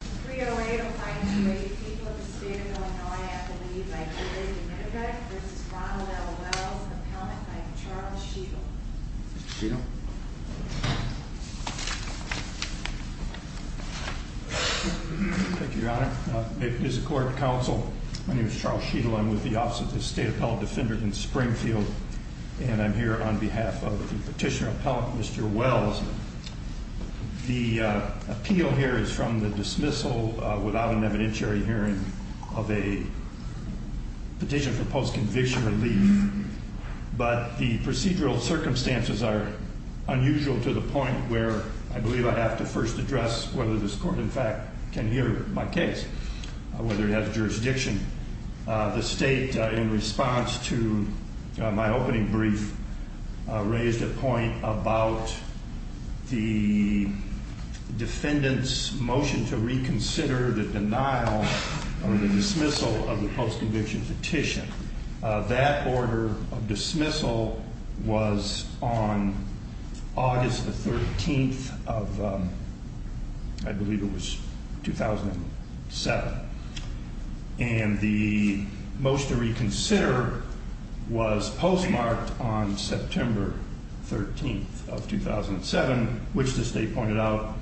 v. Ronald L. Wells Appellant by Charles Sheetal Mr. Sheetal Thank you, Your Honor. It is a court of counsel. My name is Charles Sheetal. I'm with the Office of the State Appellate Defender in Springfield, and I'm here on behalf of the Petitioner Appellant, Mr. Wells. Mr. Sheetal. Mr. Sheetal. Mr. Sheetal. Mr. Sheetal. Mr. Sheetal. I'll start this whole without an evidentiary hearing of a petition for postconviction relief, but the procedural circumstances are unusual to the point where I believe I have to first address whether this court, in fact, can hear my case, whether it has jurisdiction. The State, in response to my opening brief, raised a point about the defendant's motion to reconsider the denial or the dismissal of the postconviction petition. That order of dismissal was on August the 13th of, I believe it was 2007, and the motion to reconsider was postmarked on September 13th of 2007, which the State pointed out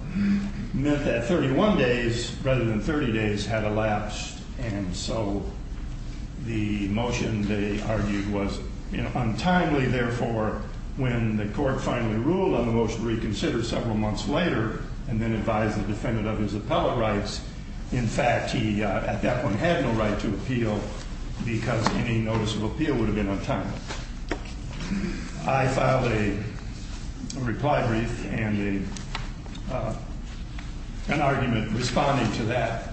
meant that 31 days rather than 30 days had elapsed, and so the motion they argued was untimely. Therefore, when the court finally ruled on the motion to reconsider several months later and then advised the defendant of his appellate rights, in fact, he at that point had no right to appeal because any notice of appeal would have been untimely. I filed a reply brief and an argument responding to that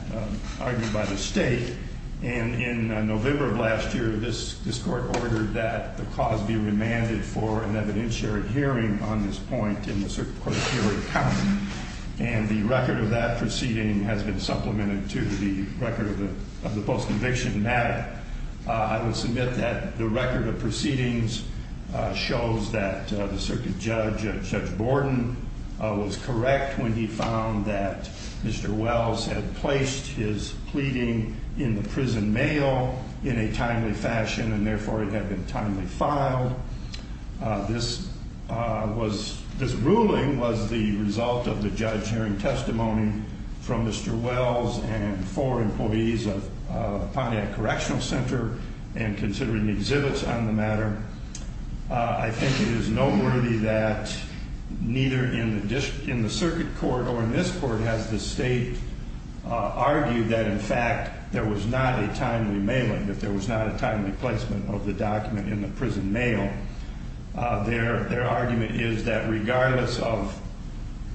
argued by the State, and in November of last year, this court ordered that the cause be remanded for an evidentiary hearing on this point in the circuit court of Cary County, and the record of that proceeding has been supplemented to the record of the postconviction matter. In fact, I will submit that the record of proceedings shows that the circuit judge, Judge Borden, was correct when he found that Mr. Wells had placed his pleading in the prison mail in a timely fashion, and therefore it had been timely filed. This ruling was the result of the judge hearing testimony from Mr. Wells and four employees of Pontiac Correctional Center and considering exhibits on the matter. I think it is noteworthy that neither in the circuit court or in this court has the State argued that, in fact, there was not a timely mailing, that there was not a timely placement of the document in the prison mail. Their argument is that regardless of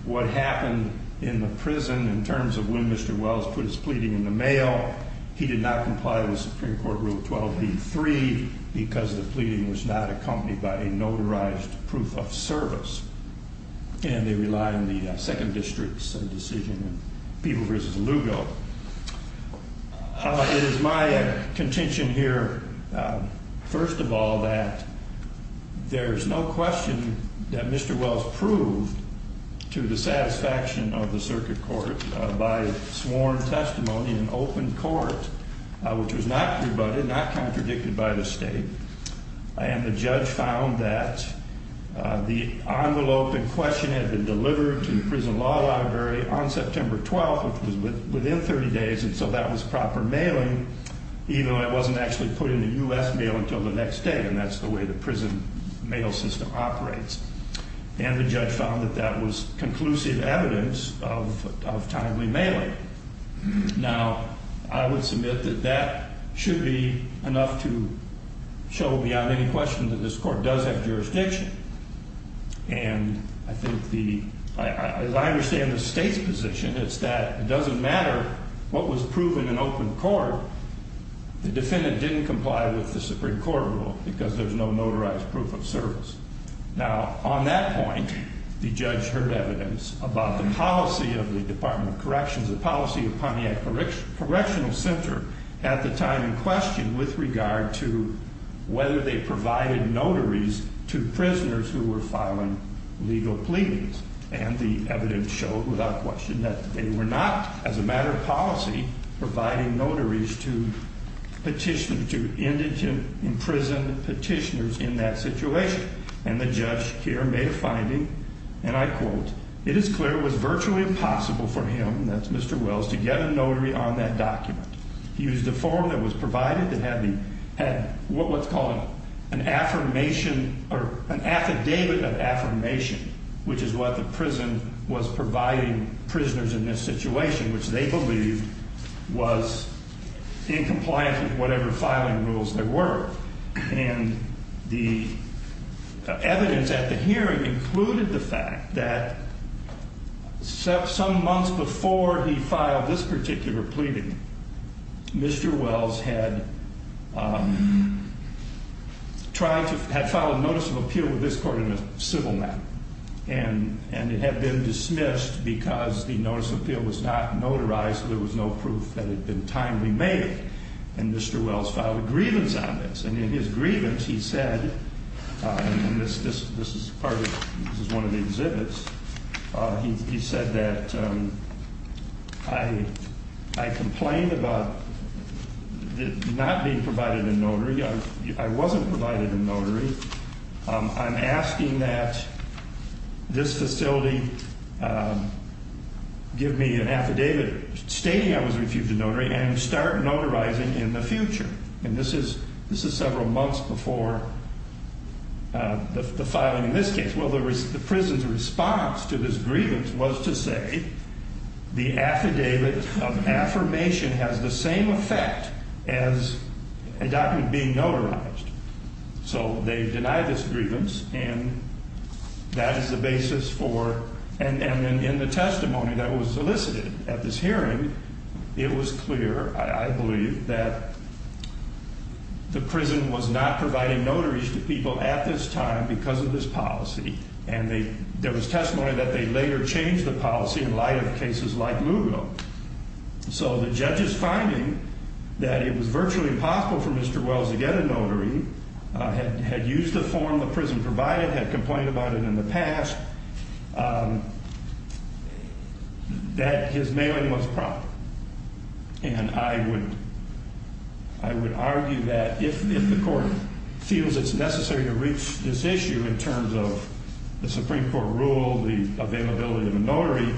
what happened in the prison in terms of when Mr. Wells placed his pleading in the mail, he did not comply with Supreme Court Rule 12b-3 because the pleading was not accompanied by a notarized proof of service, and they rely on the Second District's decision in People v. Lugo. It is my contention here, first of all, that there is no question that Mr. Wells proved to the satisfaction of the circuit court by sworn testimony in open court, which was not pre-budded, not contradicted by the State, and the judge found that the envelope in question had been delivered to the prison law library on September 12th, which was within 30 days, and so that was proper mailing, even though it wasn't actually put in the U.S. mail until the next day, and that's the way the prison mail system operates. And the judge found that that was conclusive evidence of timely mailing. Now, I would submit that that should be enough to show beyond any question that this court does have jurisdiction, and I think the, as I understand the State's position, it's that it doesn't matter what was proven in open court, the defendant didn't comply with the Supreme Court Rule because there's no notarized proof of service. Now, on that point, the judge heard evidence about the policy of the Department of Corrections, the policy of Pontiac Correctional Center at the time in question with regard to whether they provided notaries to prisoners who were filing legal pleadings, and the evidence showed without question that they were not, as a matter of policy, providing notaries to petitioners, to indigent, imprisoned petitioners in that situation, and the judge here made a finding, and I quote, it is clear it was virtually impossible for him, that's Mr. Wells, to get a notary on that document. He used a form that was provided that had what's called an affirmation or an affidavit of affirmation, which is what the prison was providing prisoners in this case, in compliance with whatever filing rules there were, and the evidence at the hearing included the fact that some months before he filed this particular pleading, Mr. Wells had tried to, had filed a notice of appeal with this court in a civil matter, and it had been dismissed because the notice of appeal was not notarized, there was no proof that it had been timely made, and Mr. Wells filed a grievance on this, and in his grievance, he said, and this is part of, this is one of the exhibits, he said that I complain about not being provided a notary, I wasn't provided a notary, I'm asking that this facility give me an affidavit stating I was refused a notary, and start notarizing in the future, and this is several months before the filing in this case. Well, the prison's response to this grievance was to say the affidavit of affirmation has the same effect as a document being notarized, so they denied this grievance, and that is the basis for, and in the testimony that was solicited at this hearing, it was clear, I believe, that the prison was not providing notaries to people at this time because of this policy, and they, there was testimony that they later changed the policy in light of cases like Lugo, so the judge's finding that it was virtually impossible for Mr. Nailing was proper, and I would, I would argue that if the court feels it's necessary to reach this issue in terms of the Supreme Court rule, the availability of a notary,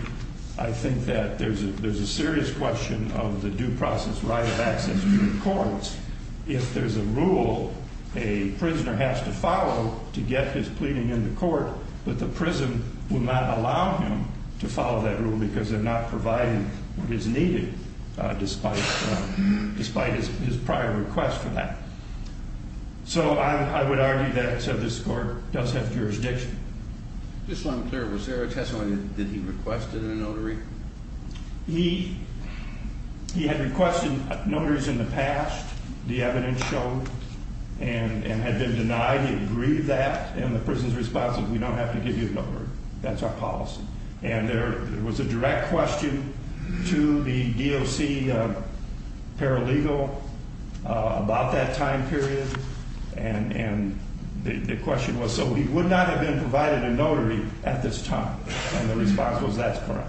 I think that there's a, there's a serious question of the due process right of access to the courts if there's a rule a prisoner has to follow to get his pleading in the court, but the prison will not allow him to follow that rule because they're not providing what is needed despite, despite his prior request for that, so I would argue that this court does have jurisdiction. Just so I'm clear, was there a testimony that he requested a notary? He, he had requested notaries in the past, the evidence showed, and had been denied. He agreed to that, and the prison's response was we don't have to give you a notary. That's our policy, and there was a direct question to the DOC paralegal about that time period, and, and the question was so he would not have been provided a notary at this time, and the response was that's correct.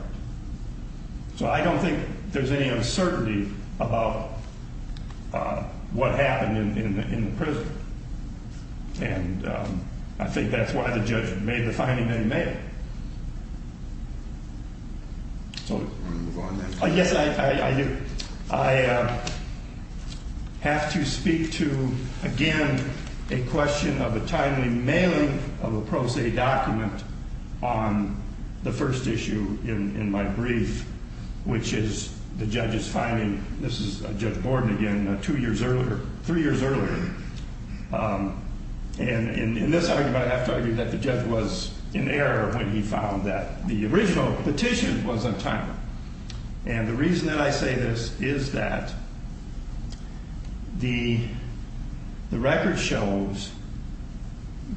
So I don't think there's any uncertainty about what happened in the prison, and I think that's why the judge made the finding that he made. So, I guess I, I, I have to speak to, again, a question of a timely mailing of a pro se document on the first issue in, in my brief, which is the judge's finding, this is Judge Borden again, two years earlier, three years earlier, and, and in this argument, I have to argue that the judge was in error, when he found that the original petition was untimely, and the reason that I say this is that the, the record shows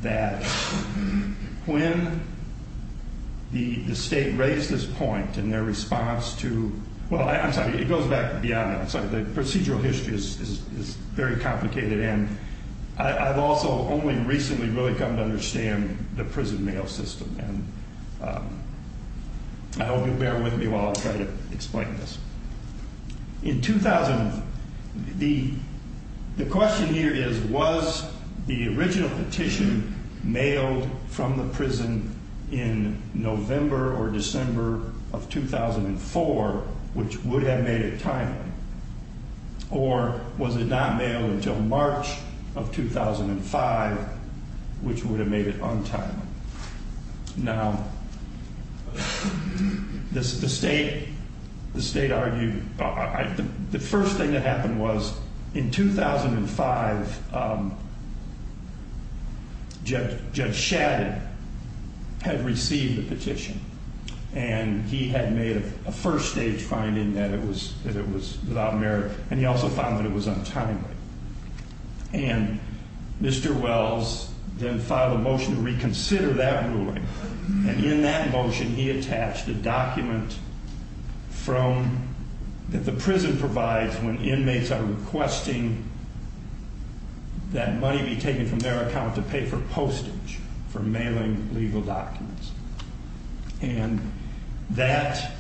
that when the, the state raised this point in their response to, well, I'm sorry, it goes back beyond that. I'm sorry, the procedural history is, is, is very complicated, and I've also only recently really come to understand the prison mail system, and I hope you'll bear with me while I try to explain this. In 2000, the, the question here is, was the original petition mailed from the prison in November or December of 2004, which would have made it timely, or was it not mailed until March of 2005, which would have made it untimely? Now, this, the state, the state argued, I, I, the, the first thing that happened was in 2005, Judge, Judge Shadid had received the petition, and he had made a, a first stage finding that it was, that it was without merit, and he also found that it was untimely. And Mr. Wells then filed a motion to reconsider that ruling, and in that motion, he attached a document from, that the prison provides when inmates are requesting that money be taken from their account to pay for postage, for mailing legal documents. And that,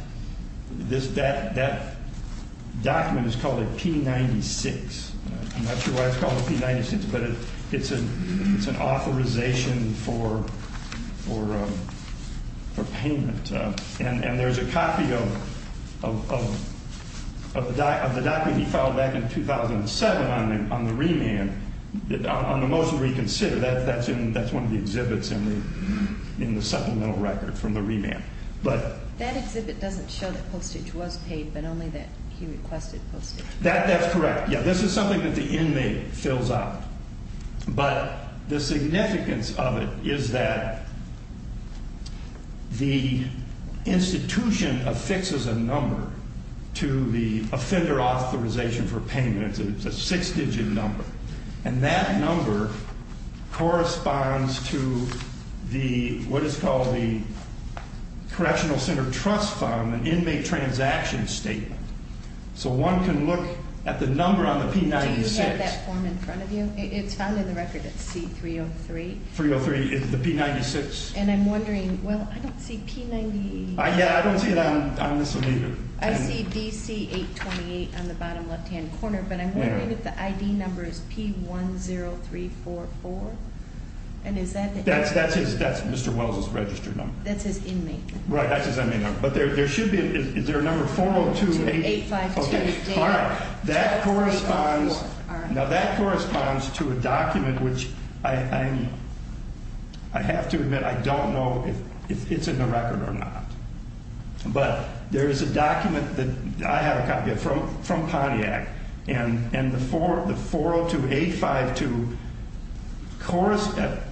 this, that, that document is called a P-96. I'm not sure why it's called a P-96, but it, it's an, it's an authorization for, for, for payment. And, and there's a copy of, of, of, of the, of the document he filed back in 2007 on the, on the remand, on the motion to reconsider. That, that's in, that's one of the exhibits in the, in the supplemental record from the remand. But. That exhibit doesn't show that postage was paid, but only that he requested postage. That, that's correct. Yeah, this is something that the inmate fills out. But the significance of it is that the institution affixes a number to the offender authorization for payment. It's a six-digit number. And that number corresponds to the, what is called the Correctional Center Trust Fund, an inmate transaction statement. So one can look at the number on the P-96. Do you have that form in front of you? It's found in the record. It's C-303. 303 is the P-96. And I'm wondering, well, I don't see P-98. Yeah, I don't see it on, on this one either. I see DC-828 on the bottom left-hand corner, but I'm wondering if the ID number is P-10344. And is that. That's, that's his, that's Mr. Wells' registered number. That's his inmate number. Right, that's his inmate number. But there, there should be, is there a number 4028. 402852. Okay. All right. That corresponds. All right. Now, that corresponds to a document which I, I, I have to admit I don't know if it's in the record or not. But there is a document that I have a copy of from, from Pontiac. And, and the 402852 corresponds,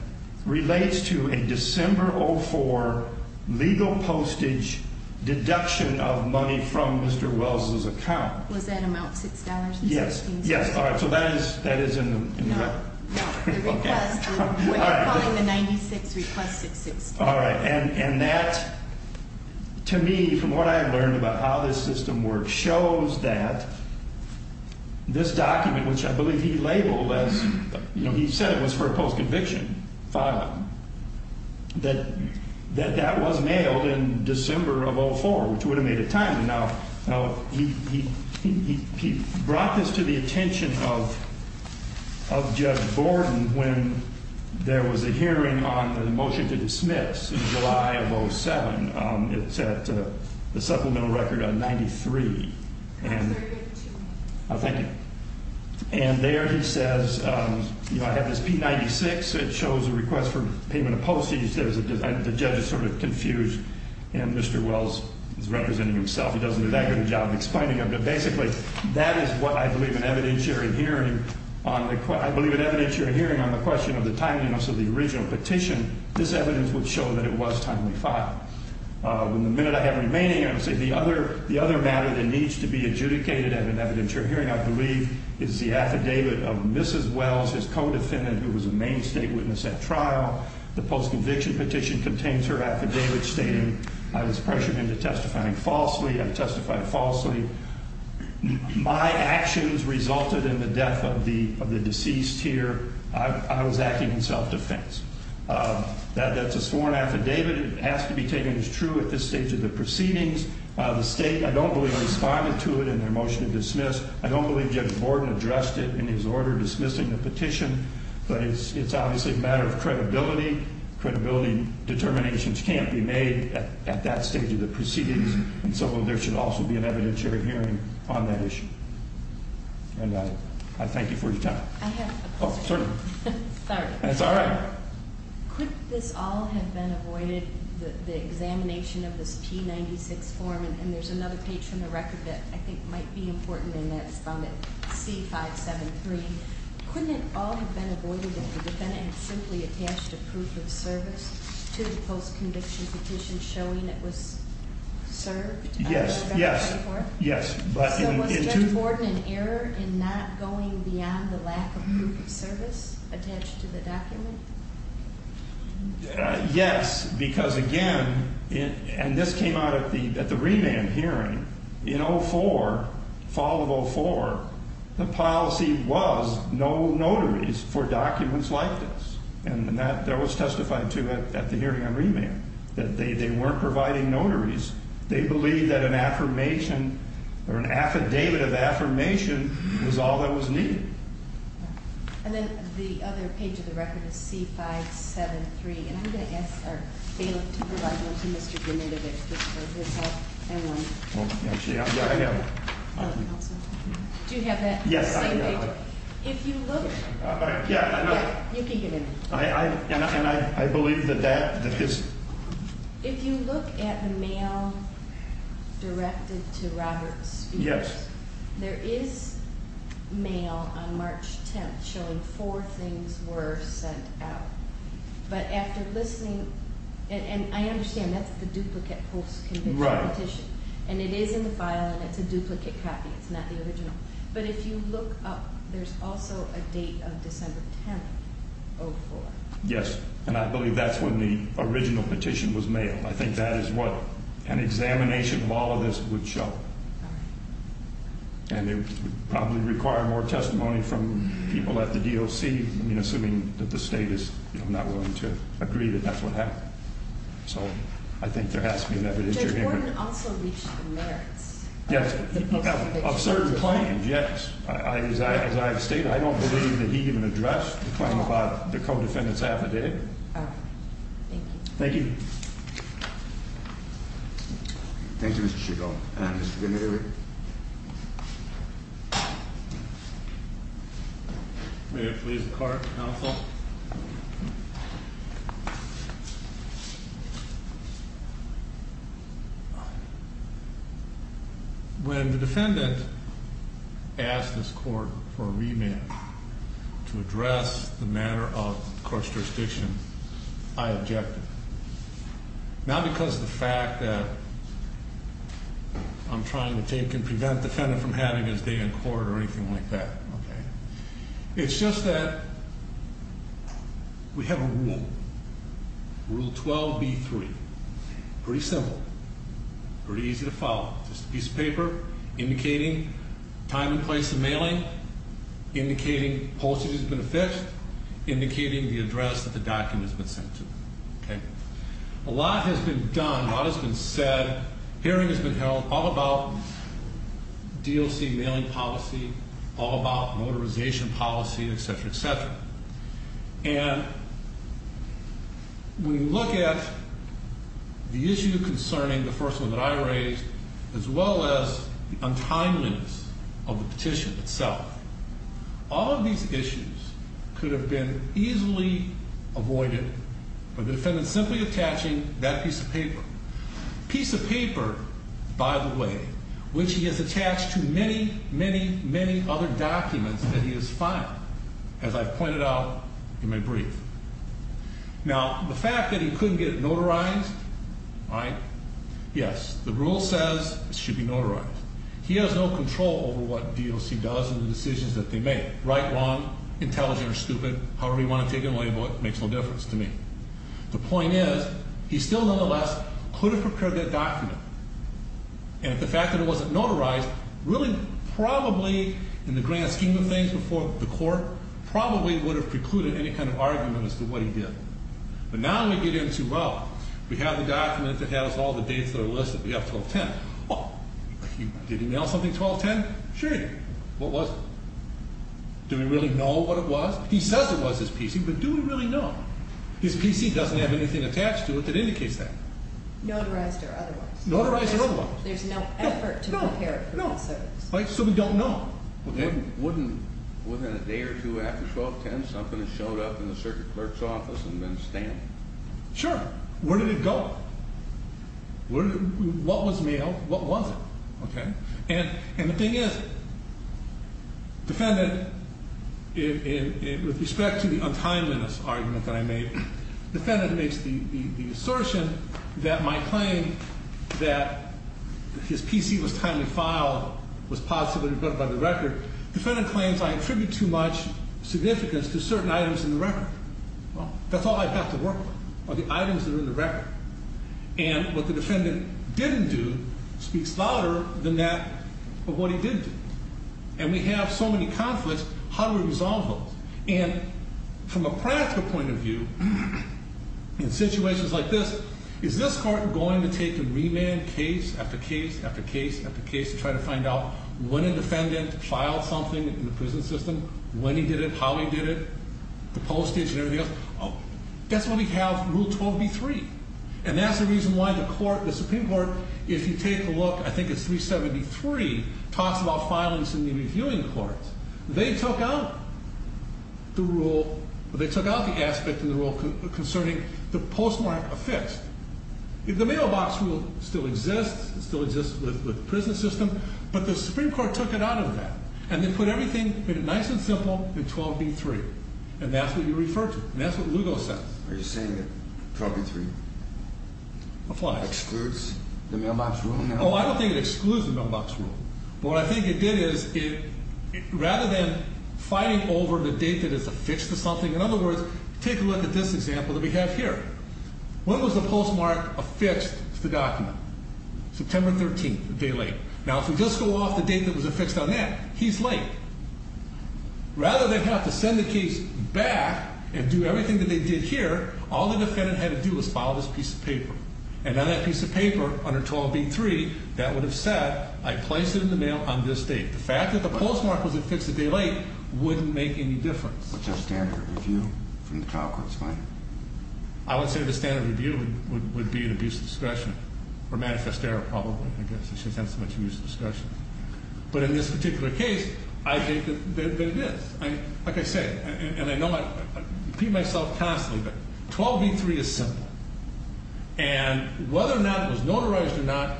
relates to a December 04 legal postage deduction of money from Mr. Wells' account. Was that amount $6.16? Yes. Yes. All right. So that is, that is in the record. No. Okay. We're calling the 96 requested $6.16. All right. And, and that, to me, from what I have learned about how this system works, shows that this document, which I believe he labeled as, you know, he said it was for a post-conviction file, that, that that was mailed in December of 04, which would have made it timely. Now, now, he, he, he, he brought this to the attention of, of Judge Borden when there was a hearing on the motion to dismiss in July of 07. It's at the supplemental record on 93. That's very good too. Thank you. And there he says, you know, I have this P96. It shows a request for payment of postage. The judge is sort of confused. And Mr. Wells is representing himself. He doesn't do that good a job of explaining it. But basically, that is what I believe an evidentiary hearing on the, I believe an evidentiary hearing on the question of the timeliness of the original petition. This evidence would show that it was timely filed. The minute I have remaining, I'm going to say the other, the other matter that needs to be adjudicated at an evidentiary hearing, I believe, is the affidavit of Mrs. Wells, his co-defendant, who was a main state witness at trial. The post-conviction petition contains her affidavit stating, I was pressured into testifying falsely. I testified falsely. My actions resulted in the death of the, of the deceased here. I, I was acting in self-defense. That, that's a sworn affidavit. It has to be taken as true at this stage of the proceedings. The state, I don't believe, responded to it in their motion to dismiss. I don't believe Judge Borden addressed it in his order dismissing the petition. But it's, it's obviously a matter of credibility. Credibility determinations can't be made at, at that stage of the proceedings. And so there should also be an evidentiary hearing on that issue. And I, I thank you for your time. I have a question. Oh, certainly. Sorry. That's all right. Could this all have been avoided, the, the examination of this P96 form? And there's another page from the record that I think might be important in that. It's found at C573. Couldn't it all have been avoided if the defendant had simply attached a proof of service to the post-conviction petition showing it was served? Yes, yes, yes. So was Judge Borden in error in not going beyond the lack of proof of service attached to the document? Yes, because again, and this came out at the, at the remand hearing. In 04, fall of 04, the policy was no notaries for documents like this. And that, that was testified to at, at the hearing on remand. That they, they weren't providing notaries. They believed that an affirmation or an affidavit of affirmation was all that was needed. And then the other page of the record is C573. And I'm going to ask our bailiff to provide one to Mr. Giminovich just for himself and one. Actually, I have one. Do you have that? Yes, I do. If you look. Yeah, I know. You can give him. I, I, and I, I believe that that, that this. If you look at the mail directed to Robert Spears. Yes. There is mail on March 10th showing four things were sent out. But after listening, and, and I understand that's the duplicate post-conviction petition. Right. And it is in the file and it's a duplicate copy. It's not the original. But if you look up, there's also a date of December 10th, 04. Yes. And I believe that's when the original petition was mailed. I think that is what an examination of all of this would show. And it would probably require more testimony from people at the DOC. I mean, assuming that the state is not willing to agree that that's what happened. So, I think there has to be an evidence. Judge Gordon also reached the merits. Yes. Of certain claims. Yes. As I have stated, I don't believe that he even addressed the claim about the co-defendant's affidavit. Oh. Thank you. Thank you. Thank you, Mr. Chico. Mr. Gennari. May it please the court, counsel. When the defendant asked this court for a remand to address the matter of court jurisdiction, I objected. Not because of the fact that I'm trying to take and prevent the defendant from having his day in court or anything like that. Okay. It's just that we have a rule. Rule 12B3. Pretty simple. Pretty easy to follow. Just a piece of paper indicating time and place of mailing, indicating postage has been affixed, indicating the address that the document has been sent to. Okay. A lot has been done. A lot has been said. Hearing has been held all about DOC mailing policy, all about motorization policy, et cetera, et cetera. And when you look at the issue concerning the first one that I raised, as well as the untimeliness of the petition itself, all of these issues could have been easily avoided by the defendant simply attaching that piece of paper. Piece of paper, by the way, which he has attached to many, many, many other documents that he has filed. As I've pointed out in my brief. Now, the fact that he couldn't get it notarized, all right, yes, the rule says it should be notarized. He has no control over what DOC does and the decisions that they make. Right, wrong, intelligent or stupid, however you want to take it and label it, makes no difference to me. The point is, he still nonetheless could have prepared that document. And if the fact that it wasn't notarized, really probably in the grand scheme of things before the court, probably would have precluded any kind of argument as to what he did. But now we get into, well, we have the document that has all the dates that are listed. We have 12-10. Well, did he mail something 12-10? Sure he did. What was it? Do we really know what it was? He says it was his PC, but do we really know? His PC doesn't have anything attached to it that indicates that. Notarized or otherwise. Notarized or otherwise. There's no effort to prepare it for that service. Right, so we don't know. Well, then wouldn't within a day or two after 12-10 something had showed up in the circuit clerk's office and been stamped? Sure. Where did it go? What was mailed? What was it? And the thing is, defendant, with respect to the untimeliness argument that I made, defendant makes the assertion that my claim that his PC was timely filed was positively recorded by the record. Defendant claims I attribute too much significance to certain items in the record. Well, that's all I have to work with are the items that are in the record. And what the defendant didn't do speaks louder than that of what he did do. And we have so many conflicts, how do we resolve those? And from a practical point of view, in situations like this, is this court going to take and remand case after case after case after case to try to find out when a defendant filed something in the prison system, when he did it, how he did it, the postage and everything else? That's why we have Rule 12b-3. And that's the reason why the Supreme Court, if you take a look, I think it's 373, talks about filings in the reviewing courts. They took out the aspect in the rule concerning the postmark affixed. The mailbox rule still exists. It still exists with the prison system. But the Supreme Court took it out of that. And they put everything, made it nice and simple in 12b-3. And that's what you refer to, and that's what Lugo says. Are you saying that 12b-3 excludes the mailbox rule? Oh, I don't think it excludes the mailbox rule. But what I think it did is, rather than fighting over the date that it's affixed to something, in other words, take a look at this example that we have here. When was the postmark affixed to the document? September 13th, a day late. Now, if we just go off the date that it was affixed on that, he's late. Rather than have to send the case back and do everything that they did here, all the defendant had to do was file this piece of paper. And on that piece of paper, under 12b-3, that would have said, I place it in the mail on this date. The fact that the postmark was affixed a day late wouldn't make any difference. What's your standard review from the trial court's point of view? I would say the standard review would be an abuse of discretion, or manifest error probably, I guess. It's just not so much abuse of discretion. But in this particular case, I think that it is. Like I say, and I know I repeat myself constantly, but 12b-3 is simple. And whether or not it was notarized or not,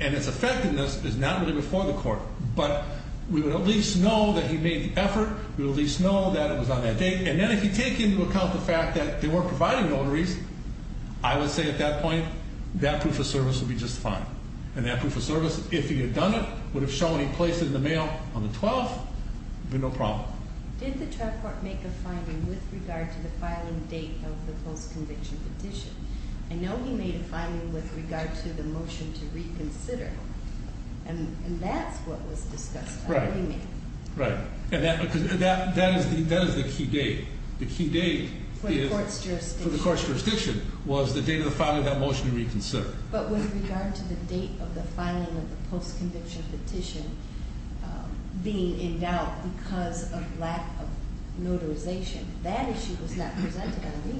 and its effectiveness, is not really before the court. But we would at least know that he made the effort. We would at least know that it was on that date. And then if you take into account the fact that they weren't providing notaries, I would say at that point, that proof of service would be just fine. And that proof of service, if he had done it, would have shown he placed it in the mail on the 12th, would be no problem. Did the trial court make a finding with regard to the filing date of the post-conviction petition? I know he made a finding with regard to the motion to reconsider. And that's what was discussed. Right. And that is the key date. The key date for the court's jurisdiction was the date of the filing of that motion to reconsider. But with regard to the date of the filing of the post-conviction petition being endowed because of lack of notarization, that issue was not presented on the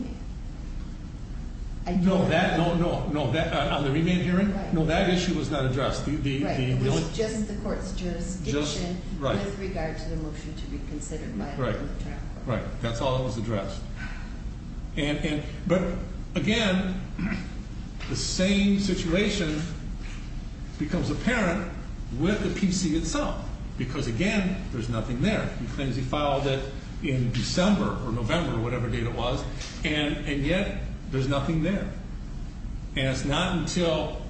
remand hearing. No, that issue was not addressed. Right. It was just the court's jurisdiction with regard to the motion to reconsider by the court trial court. Right. That's all that was addressed. But, again, the same situation becomes apparent with the PC itself because, again, there's nothing there. He claims he filed it in December or November or whatever date it was, and yet there's nothing there. And it's not until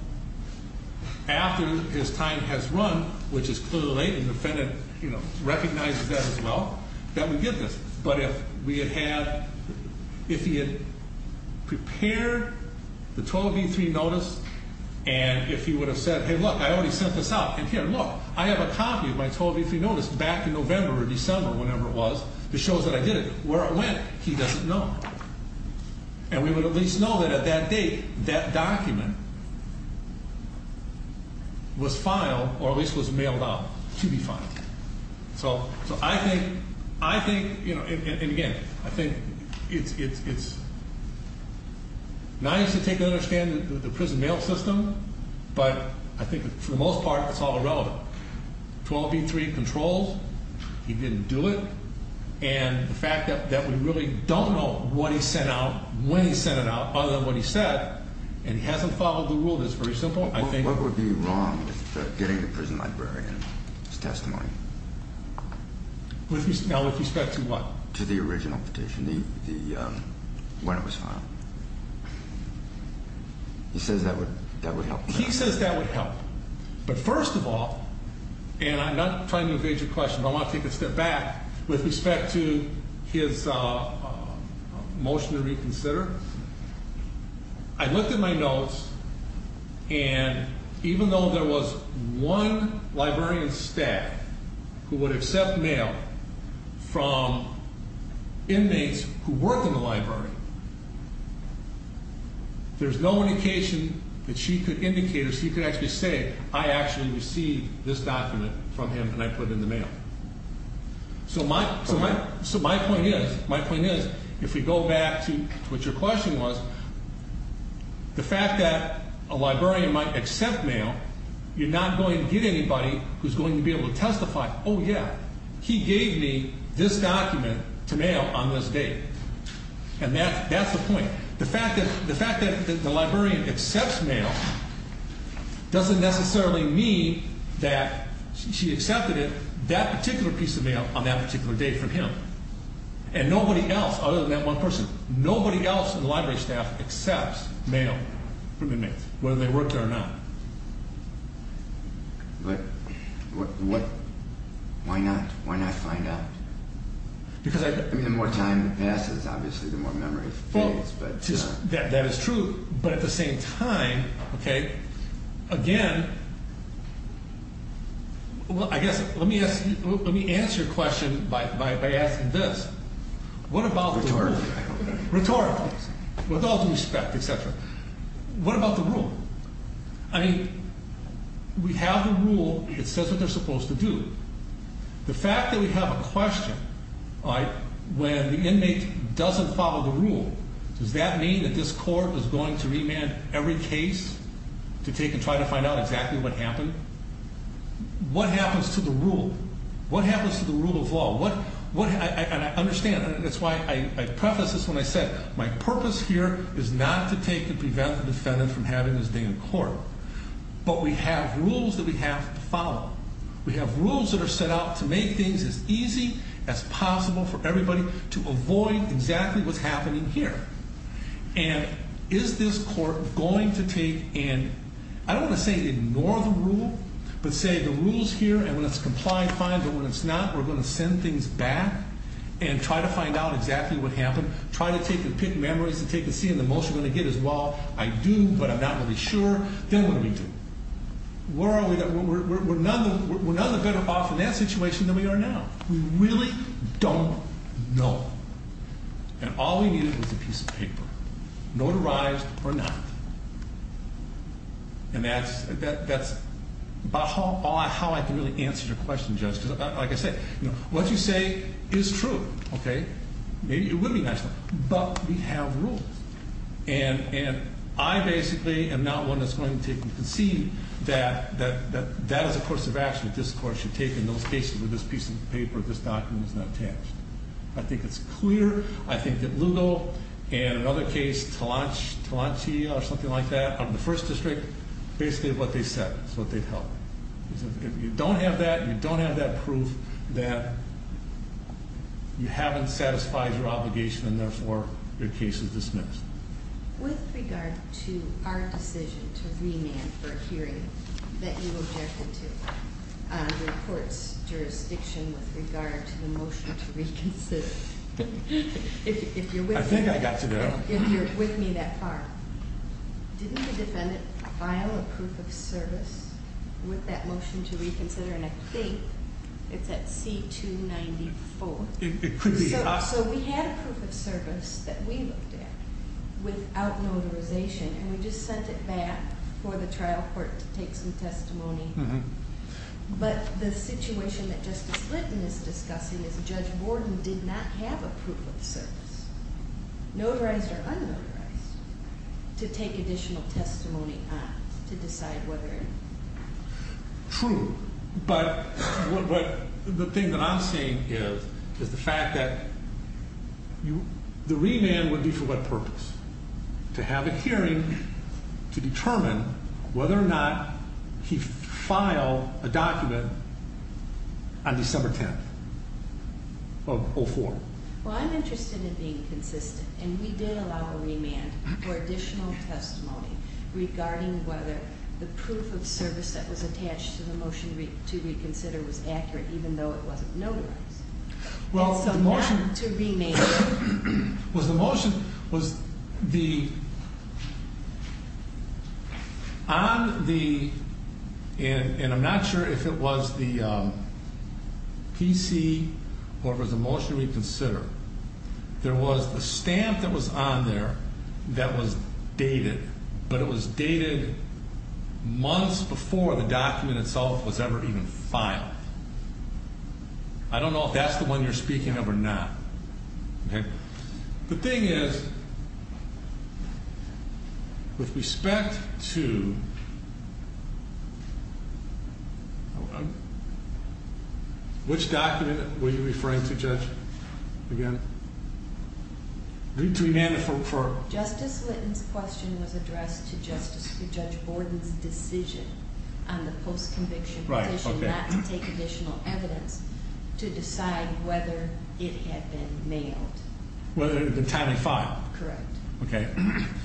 after his time has run, which is clearly late and the defendant recognizes that as well, that we get this. But if we had had ‑‑ if he had prepared the 12E3 notice and if he would have said, hey, look, I already sent this out, and here, look, I have a copy of my 12E3 notice back in November or December or whenever it was that shows that I did it. Where it went, he doesn't know. And we would at least know that at that date that document was filed or at least was mailed out to be filed. So I think, and again, I think it's nice to take and understand the prison mail system, but I think for the most part, it's all irrelevant. 12E3 controls. He didn't do it. And the fact that we really don't know what he sent out, when he sent it out, other than what he said, and he hasn't followed the rule, that's very simple. What would be wrong with getting the prison librarian's testimony? Now, with respect to what? To the original petition, when it was filed. He says that would help. He says that would help. But first of all, and I'm not trying to evade your question, but I want to take a step back with respect to his motion to reconsider. I looked at my notes, and even though there was one librarian staff who would accept mail from inmates who worked in the library, there's no indication that she could indicate or she could actually say, I actually received this document from him and I put it in the mail. So my point is, if we go back to what your question was, the fact that a librarian might accept mail, you're not going to get anybody who's going to be able to testify, oh yeah, he gave me this document to mail on this date. And that's the point. The fact that the librarian accepts mail doesn't necessarily mean that she accepted that particular piece of mail on that particular day from him. And nobody else, other than that one person, nobody else in the library staff accepts mail from inmates, whether they worked there or not. But why not? Why not find out? The more time that passes, obviously, the more memory fades. That is true, but at the same time, again, I guess let me answer your question by asking this. What about the rule? Rhetorically. Rhetorically. With all due respect, et cetera. What about the rule? I mean, we have a rule that says what they're supposed to do. The fact that we have a question, when the inmate doesn't follow the rule, does that mean that this court is going to remand every case to take and try to find out exactly what happened? What happens to the rule? What happens to the rule of law? And I understand, and that's why I prefaced this when I said my purpose here is not to take and prevent the defendant from having his day in court. We have rules that are set out to make things as easy as possible for everybody to avoid exactly what's happening here. And is this court going to take and, I don't want to say ignore the rule, but say the rule's here and when it's complied, fine, but when it's not, we're going to send things back and try to find out exactly what happened. Try to take and pick memories and take and see, and the most you're going to get is, well, I do, but I'm not really sure. Then what do we do? We're none the better off in that situation than we are now. We really don't know. And all we needed was a piece of paper, notarized or not. And that's about how I can really answer your question, Judge, because like I said, what you say is true, okay? It would be nice, but we have rules. And I basically am not one that's going to take and concede that that is a course of action that this court should take in those cases where this piece of paper, this document is not attached. I think it's clear. I think that Lugo and another case, Talanchia or something like that, on the first district, basically what they said is what they'd help. If you don't have that, you don't have that proof that you haven't satisfied your obligation and therefore your case is dismissed. With regard to our decision to remand for a hearing that you objected to, the court's jurisdiction with regard to the motion to reconsider, if you're with me- I think I got to go. If you're with me that far, didn't the defendant file a proof of service with that motion to reconsider? And I think it's at C-294. It could be. So we had a proof of service that we looked at without notarization. And we just sent it back for the trial court to take some testimony. But the situation that Justice Litton is discussing is Judge Borden did not have a proof of service. Notarized or unnotarized, to take additional testimony on, to decide whether- True. But the thing that I'm seeing is the fact that the remand would be for what purpose? To have a hearing to determine whether or not he filed a document on December 10th of 04. Well, I'm interested in being consistent. And we did allow a remand for additional testimony regarding whether the proof of service that was attached to the motion to reconsider was accurate, even though it wasn't notarized. Well, the motion- And so not to remand. Was the motion- Was the- On the- And I'm not sure if it was the PC or if it was the motion to reconsider. There was the stamp that was on there that was dated. But it was dated months before the document itself was ever even filed. I don't know if that's the one you're speaking of or not. Okay? The thing is, with respect to- Which document were you referring to, Judge? Again? The remand for- Justice Litton's question was addressed to Judge Borden's decision on the post-conviction- Right, okay. Not to take additional evidence to decide whether it had been mailed. Whether it had been time to file. Correct. Okay.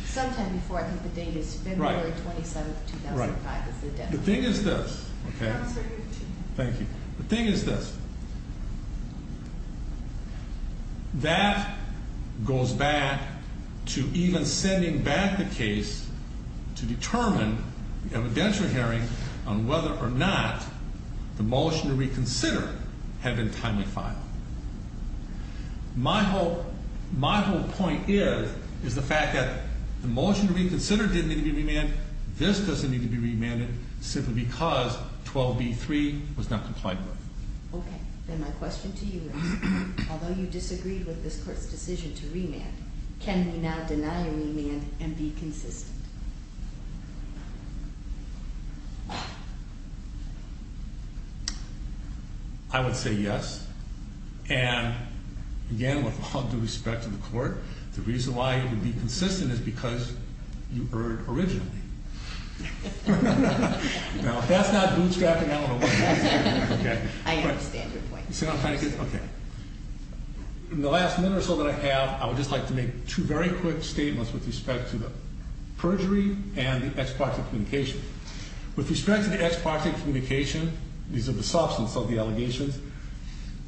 Sometime before. I think the date is February 27th, 2005. Right. The thing is this. Okay? Thank you. The thing is this. That goes back to even sending back the case to determine the evidentiary hearing on whether or not the motion to reconsider had been timely filed. My whole point is, is the fact that the motion to reconsider didn't need to be remanded. This doesn't need to be remanded simply because 12b-3 was not compliant with. Okay. Then my question to you is, although you disagreed with this court's decision to remand, can we now deny a remand and be consistent? I would say yes. And, again, with all due respect to the court, the reason why it would be consistent is because you erred originally. Now, if that's not bootstrapping, I don't know what is. I understand your point. Okay. In the last minute or so that I have, I would just like to make two very quick statements with respect to the perjury and the ex parte communication. With respect to the ex parte communication, these are the substance of the allegations,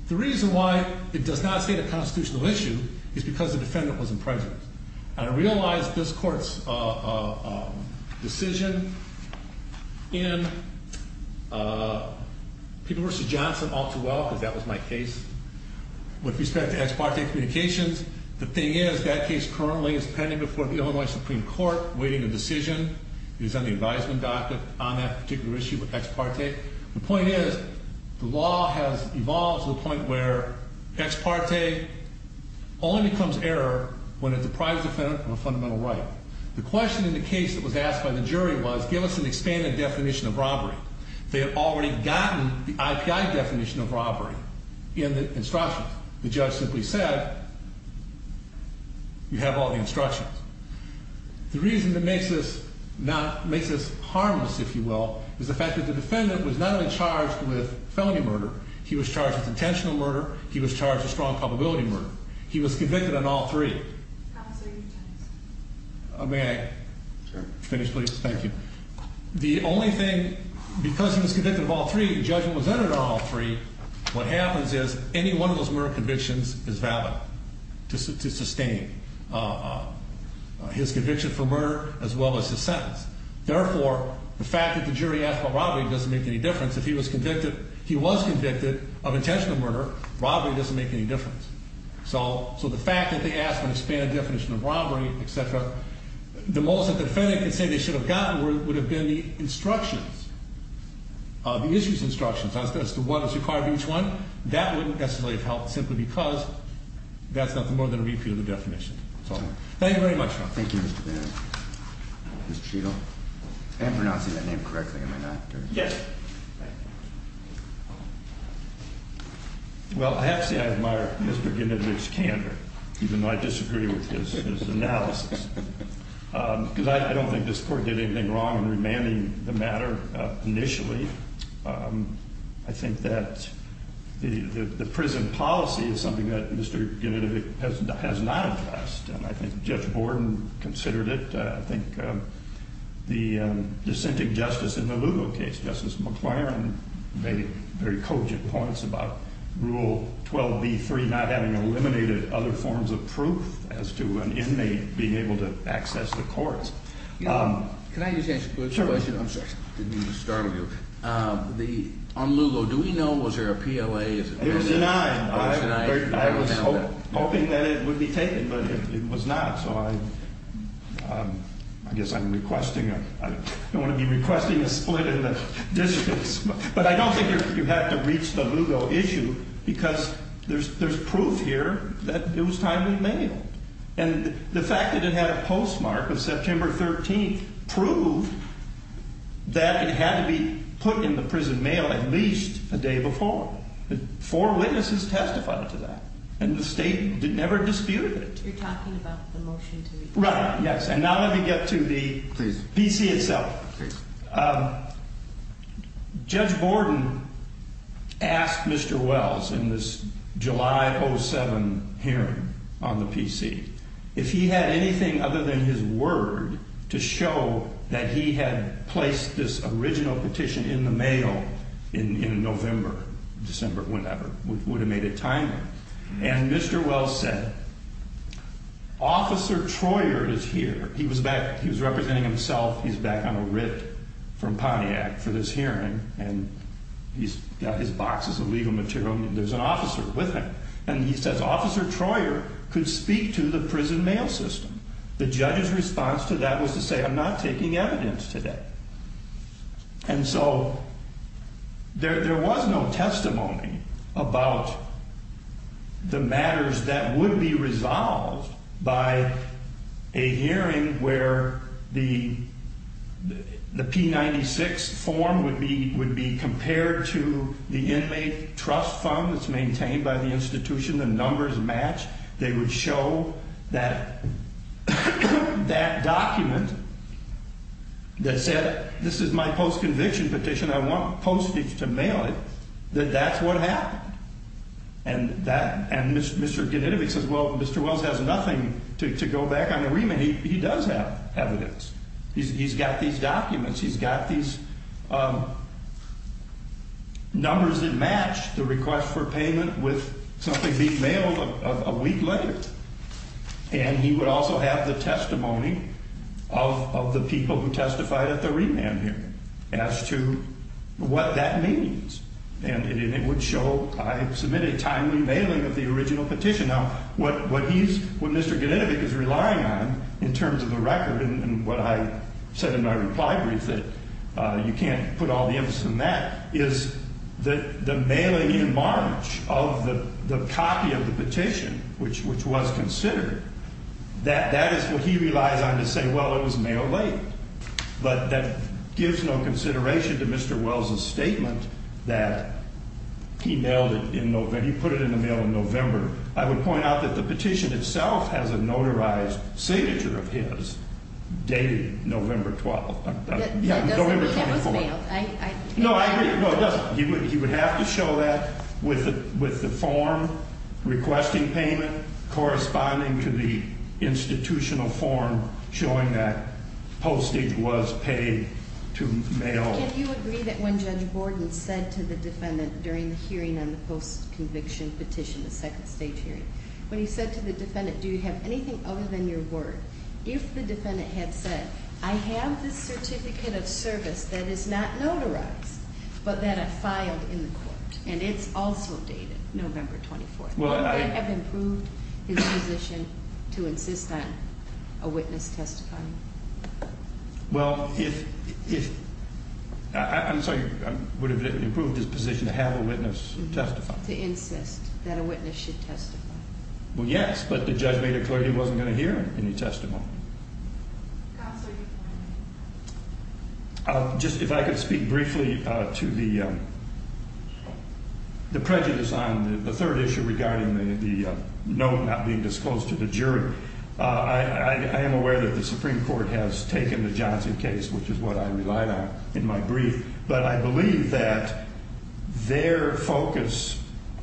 the reason why it does not state a constitutional issue is because the defendant was in prejudice. And I realize this court's decision in People v. Johnson all too well, because that was my case. With respect to ex parte communications, the thing is, that case currently is pending before the Illinois Supreme Court, waiting a decision. It is on the advisement docket on that particular issue of ex parte. The point is, the law has evolved to the point where ex parte only becomes error when it's a private defendant of a fundamental right. The question in the case that was asked by the jury was, give us an expanded definition of robbery. They had already gotten the IPI definition of robbery in the instructions. The judge simply said, you have all the instructions. The reason that makes this harmless, if you will, is the fact that the defendant was not only charged with felony murder. He was charged with intentional murder. He was charged with strong probability murder. He was convicted on all three. May I finish, please? Thank you. The only thing, because he was convicted of all three, the judgment was entered on all three. What happens is, any one of those murder convictions is valid to sustain his conviction for murder as well as his sentence. Therefore, the fact that the jury asked for robbery doesn't make any difference. If he was convicted, he was convicted of intentional murder, robbery doesn't make any difference. So the fact that they asked for an expanded definition of robbery, et cetera, the most that the defendant can say they should have gotten would have been the instructions, the issues instructions as to what is required of each one. That wouldn't necessarily have helped, simply because that's nothing more than a repeat of the definition. Thank you very much. Thank you, Mr. Bannon. Mr. Shego? If I'm pronouncing that name correctly, am I not? Yes. Thank you. Well, I have to say, I admire Mr. Genovich's candor, even though I disagree with his analysis. Because I don't think this court did anything wrong in remanding the matter initially. I think that the prison policy is something that Mr. Genovich has not addressed, and I think Judge Borden considered it. I think the dissenting justice in the Lugo case, Justice McLaren, made very cogent points about Rule 12b-3 not having eliminated other forms of proof as to an inmate being able to access the courts. Can I just ask a question? Sure. I'm sorry. Didn't mean to startle you. On Lugo, do we know, was there a PLA? There's a nine. I was hoping that it would be taken, but it was not. So I guess I'm requesting, I don't want to be requesting a split in the districts. But I don't think you have to reach the Lugo issue, because there's proof here that it was timely mail. And the fact that it had a postmark of September 13th proved that it had to be put in the prison mail at least a day before. Four witnesses testified to that, and the state never disputed it. You're talking about the motion to release? Right, yes. And now let me get to the PC itself. Judge Borden asked Mr. Wells in this July 07 hearing on the PC if he had anything other than his word to show that he had placed this original petition in the mail in November, December, whenever. Would have made it timely. And Mr. Wells said, Officer Troyer is here. He was back. He was representing himself. He's back on a writ from Pontiac for this hearing, and he's got his boxes of legal material, and there's an officer with him. And he says, Officer Troyer could speak to the prison mail system. The judge's response to that was to say, I'm not taking evidence today. And so there was no testimony about the matters that would be resolved by a hearing where the P-96 form would be compared to the inmate trust fund that's maintained by the institution. The numbers match. They would show that document that said, this is my post-conviction petition. I want postage to mail it, that that's what happened. And Mr. Genitovic says, well, Mr. Wells has nothing to go back on the remit. He does have evidence. He's got these documents. He's got these numbers that match the request for payment with something being mailed a week later. And he would also have the testimony of the people who testified at the remand hearing as to what that means. And it would show I submitted a timely mailing of the original petition. Now, what he's, what Mr. Genitovic is relying on in terms of the record and what I said in my reply brief that you can't put all the emphasis on that, is that the mailing in March of the copy of the petition, which was considered, that is what he relies on to say, well, it was mailed late. But that gives no consideration to Mr. Wells' statement that he mailed it in November, he put it in the mail in November. I would point out that the petition itself has a notarized signature of his dated November 12th. Yeah, November 24th. It was mailed. No, I agree. No, it doesn't. He would have to show that with the form requesting payment corresponding to the institutional form showing that postage was paid to mail. Can you agree that when Judge Borden said to the defendant during the hearing on the post-conviction petition, the second stage hearing, when he said to the defendant, do you have anything other than your word? If the defendant had said, I have this certificate of service that is not notarized, but that I filed in the court, and it's also dated November 24th, would that have improved his position to insist on a witness testifying? Well, if, I'm sorry, would it have improved his position to have a witness testify? To insist that a witness should testify. Well, yes, but the judge made it clear he wasn't going to hear any testimony. Just if I could speak briefly to the prejudice on the third issue regarding the note not being disclosed to the jury. I am aware that the Supreme Court has taken the Johnson case, which is what I relied on in my brief. But I believe that their focus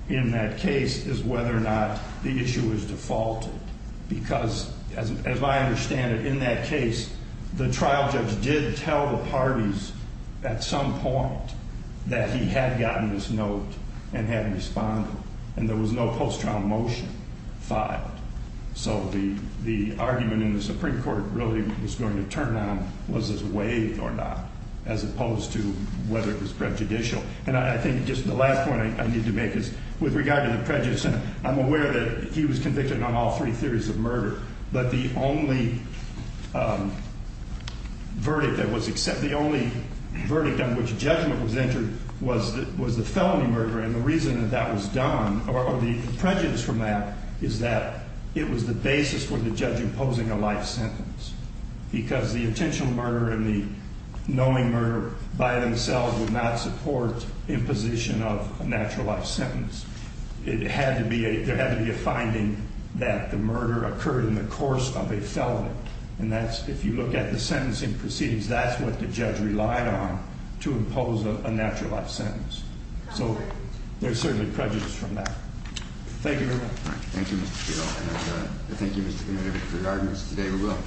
in that case is whether or not the issue is defaulted. Because, as I understand it, in that case, the trial judge did tell the parties at some point that he had gotten this note and had responded. And there was no post-trial motion filed. So the argument in the Supreme Court really was going to turn around, was this waived or not, as opposed to whether it was prejudicial. And I think just the last point I need to make is, with regard to the prejudice, I'm aware that he was convicted on all three theories of murder. But the only verdict that was accepted, the only verdict on which judgment was entered, was the felony murder. And the reason that that was done, or the prejudice from that, is that it was the basis for the judge imposing a life sentence. Because the intentional murder and the knowing murder by themselves would not support imposition of a natural life sentence. There had to be a finding that the murder occurred in the course of a felony. And that's, if you look at the sentencing proceedings, that's what the judge relied on to impose a natural life sentence. So there's certainly prejudice from that. Thank you very much. Thank you, Mr. Shill. And thank you, Mr. Commander, for your arguments today. We will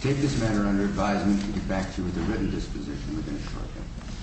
take this matter under advisement and get back to you with a written disposition within a short time.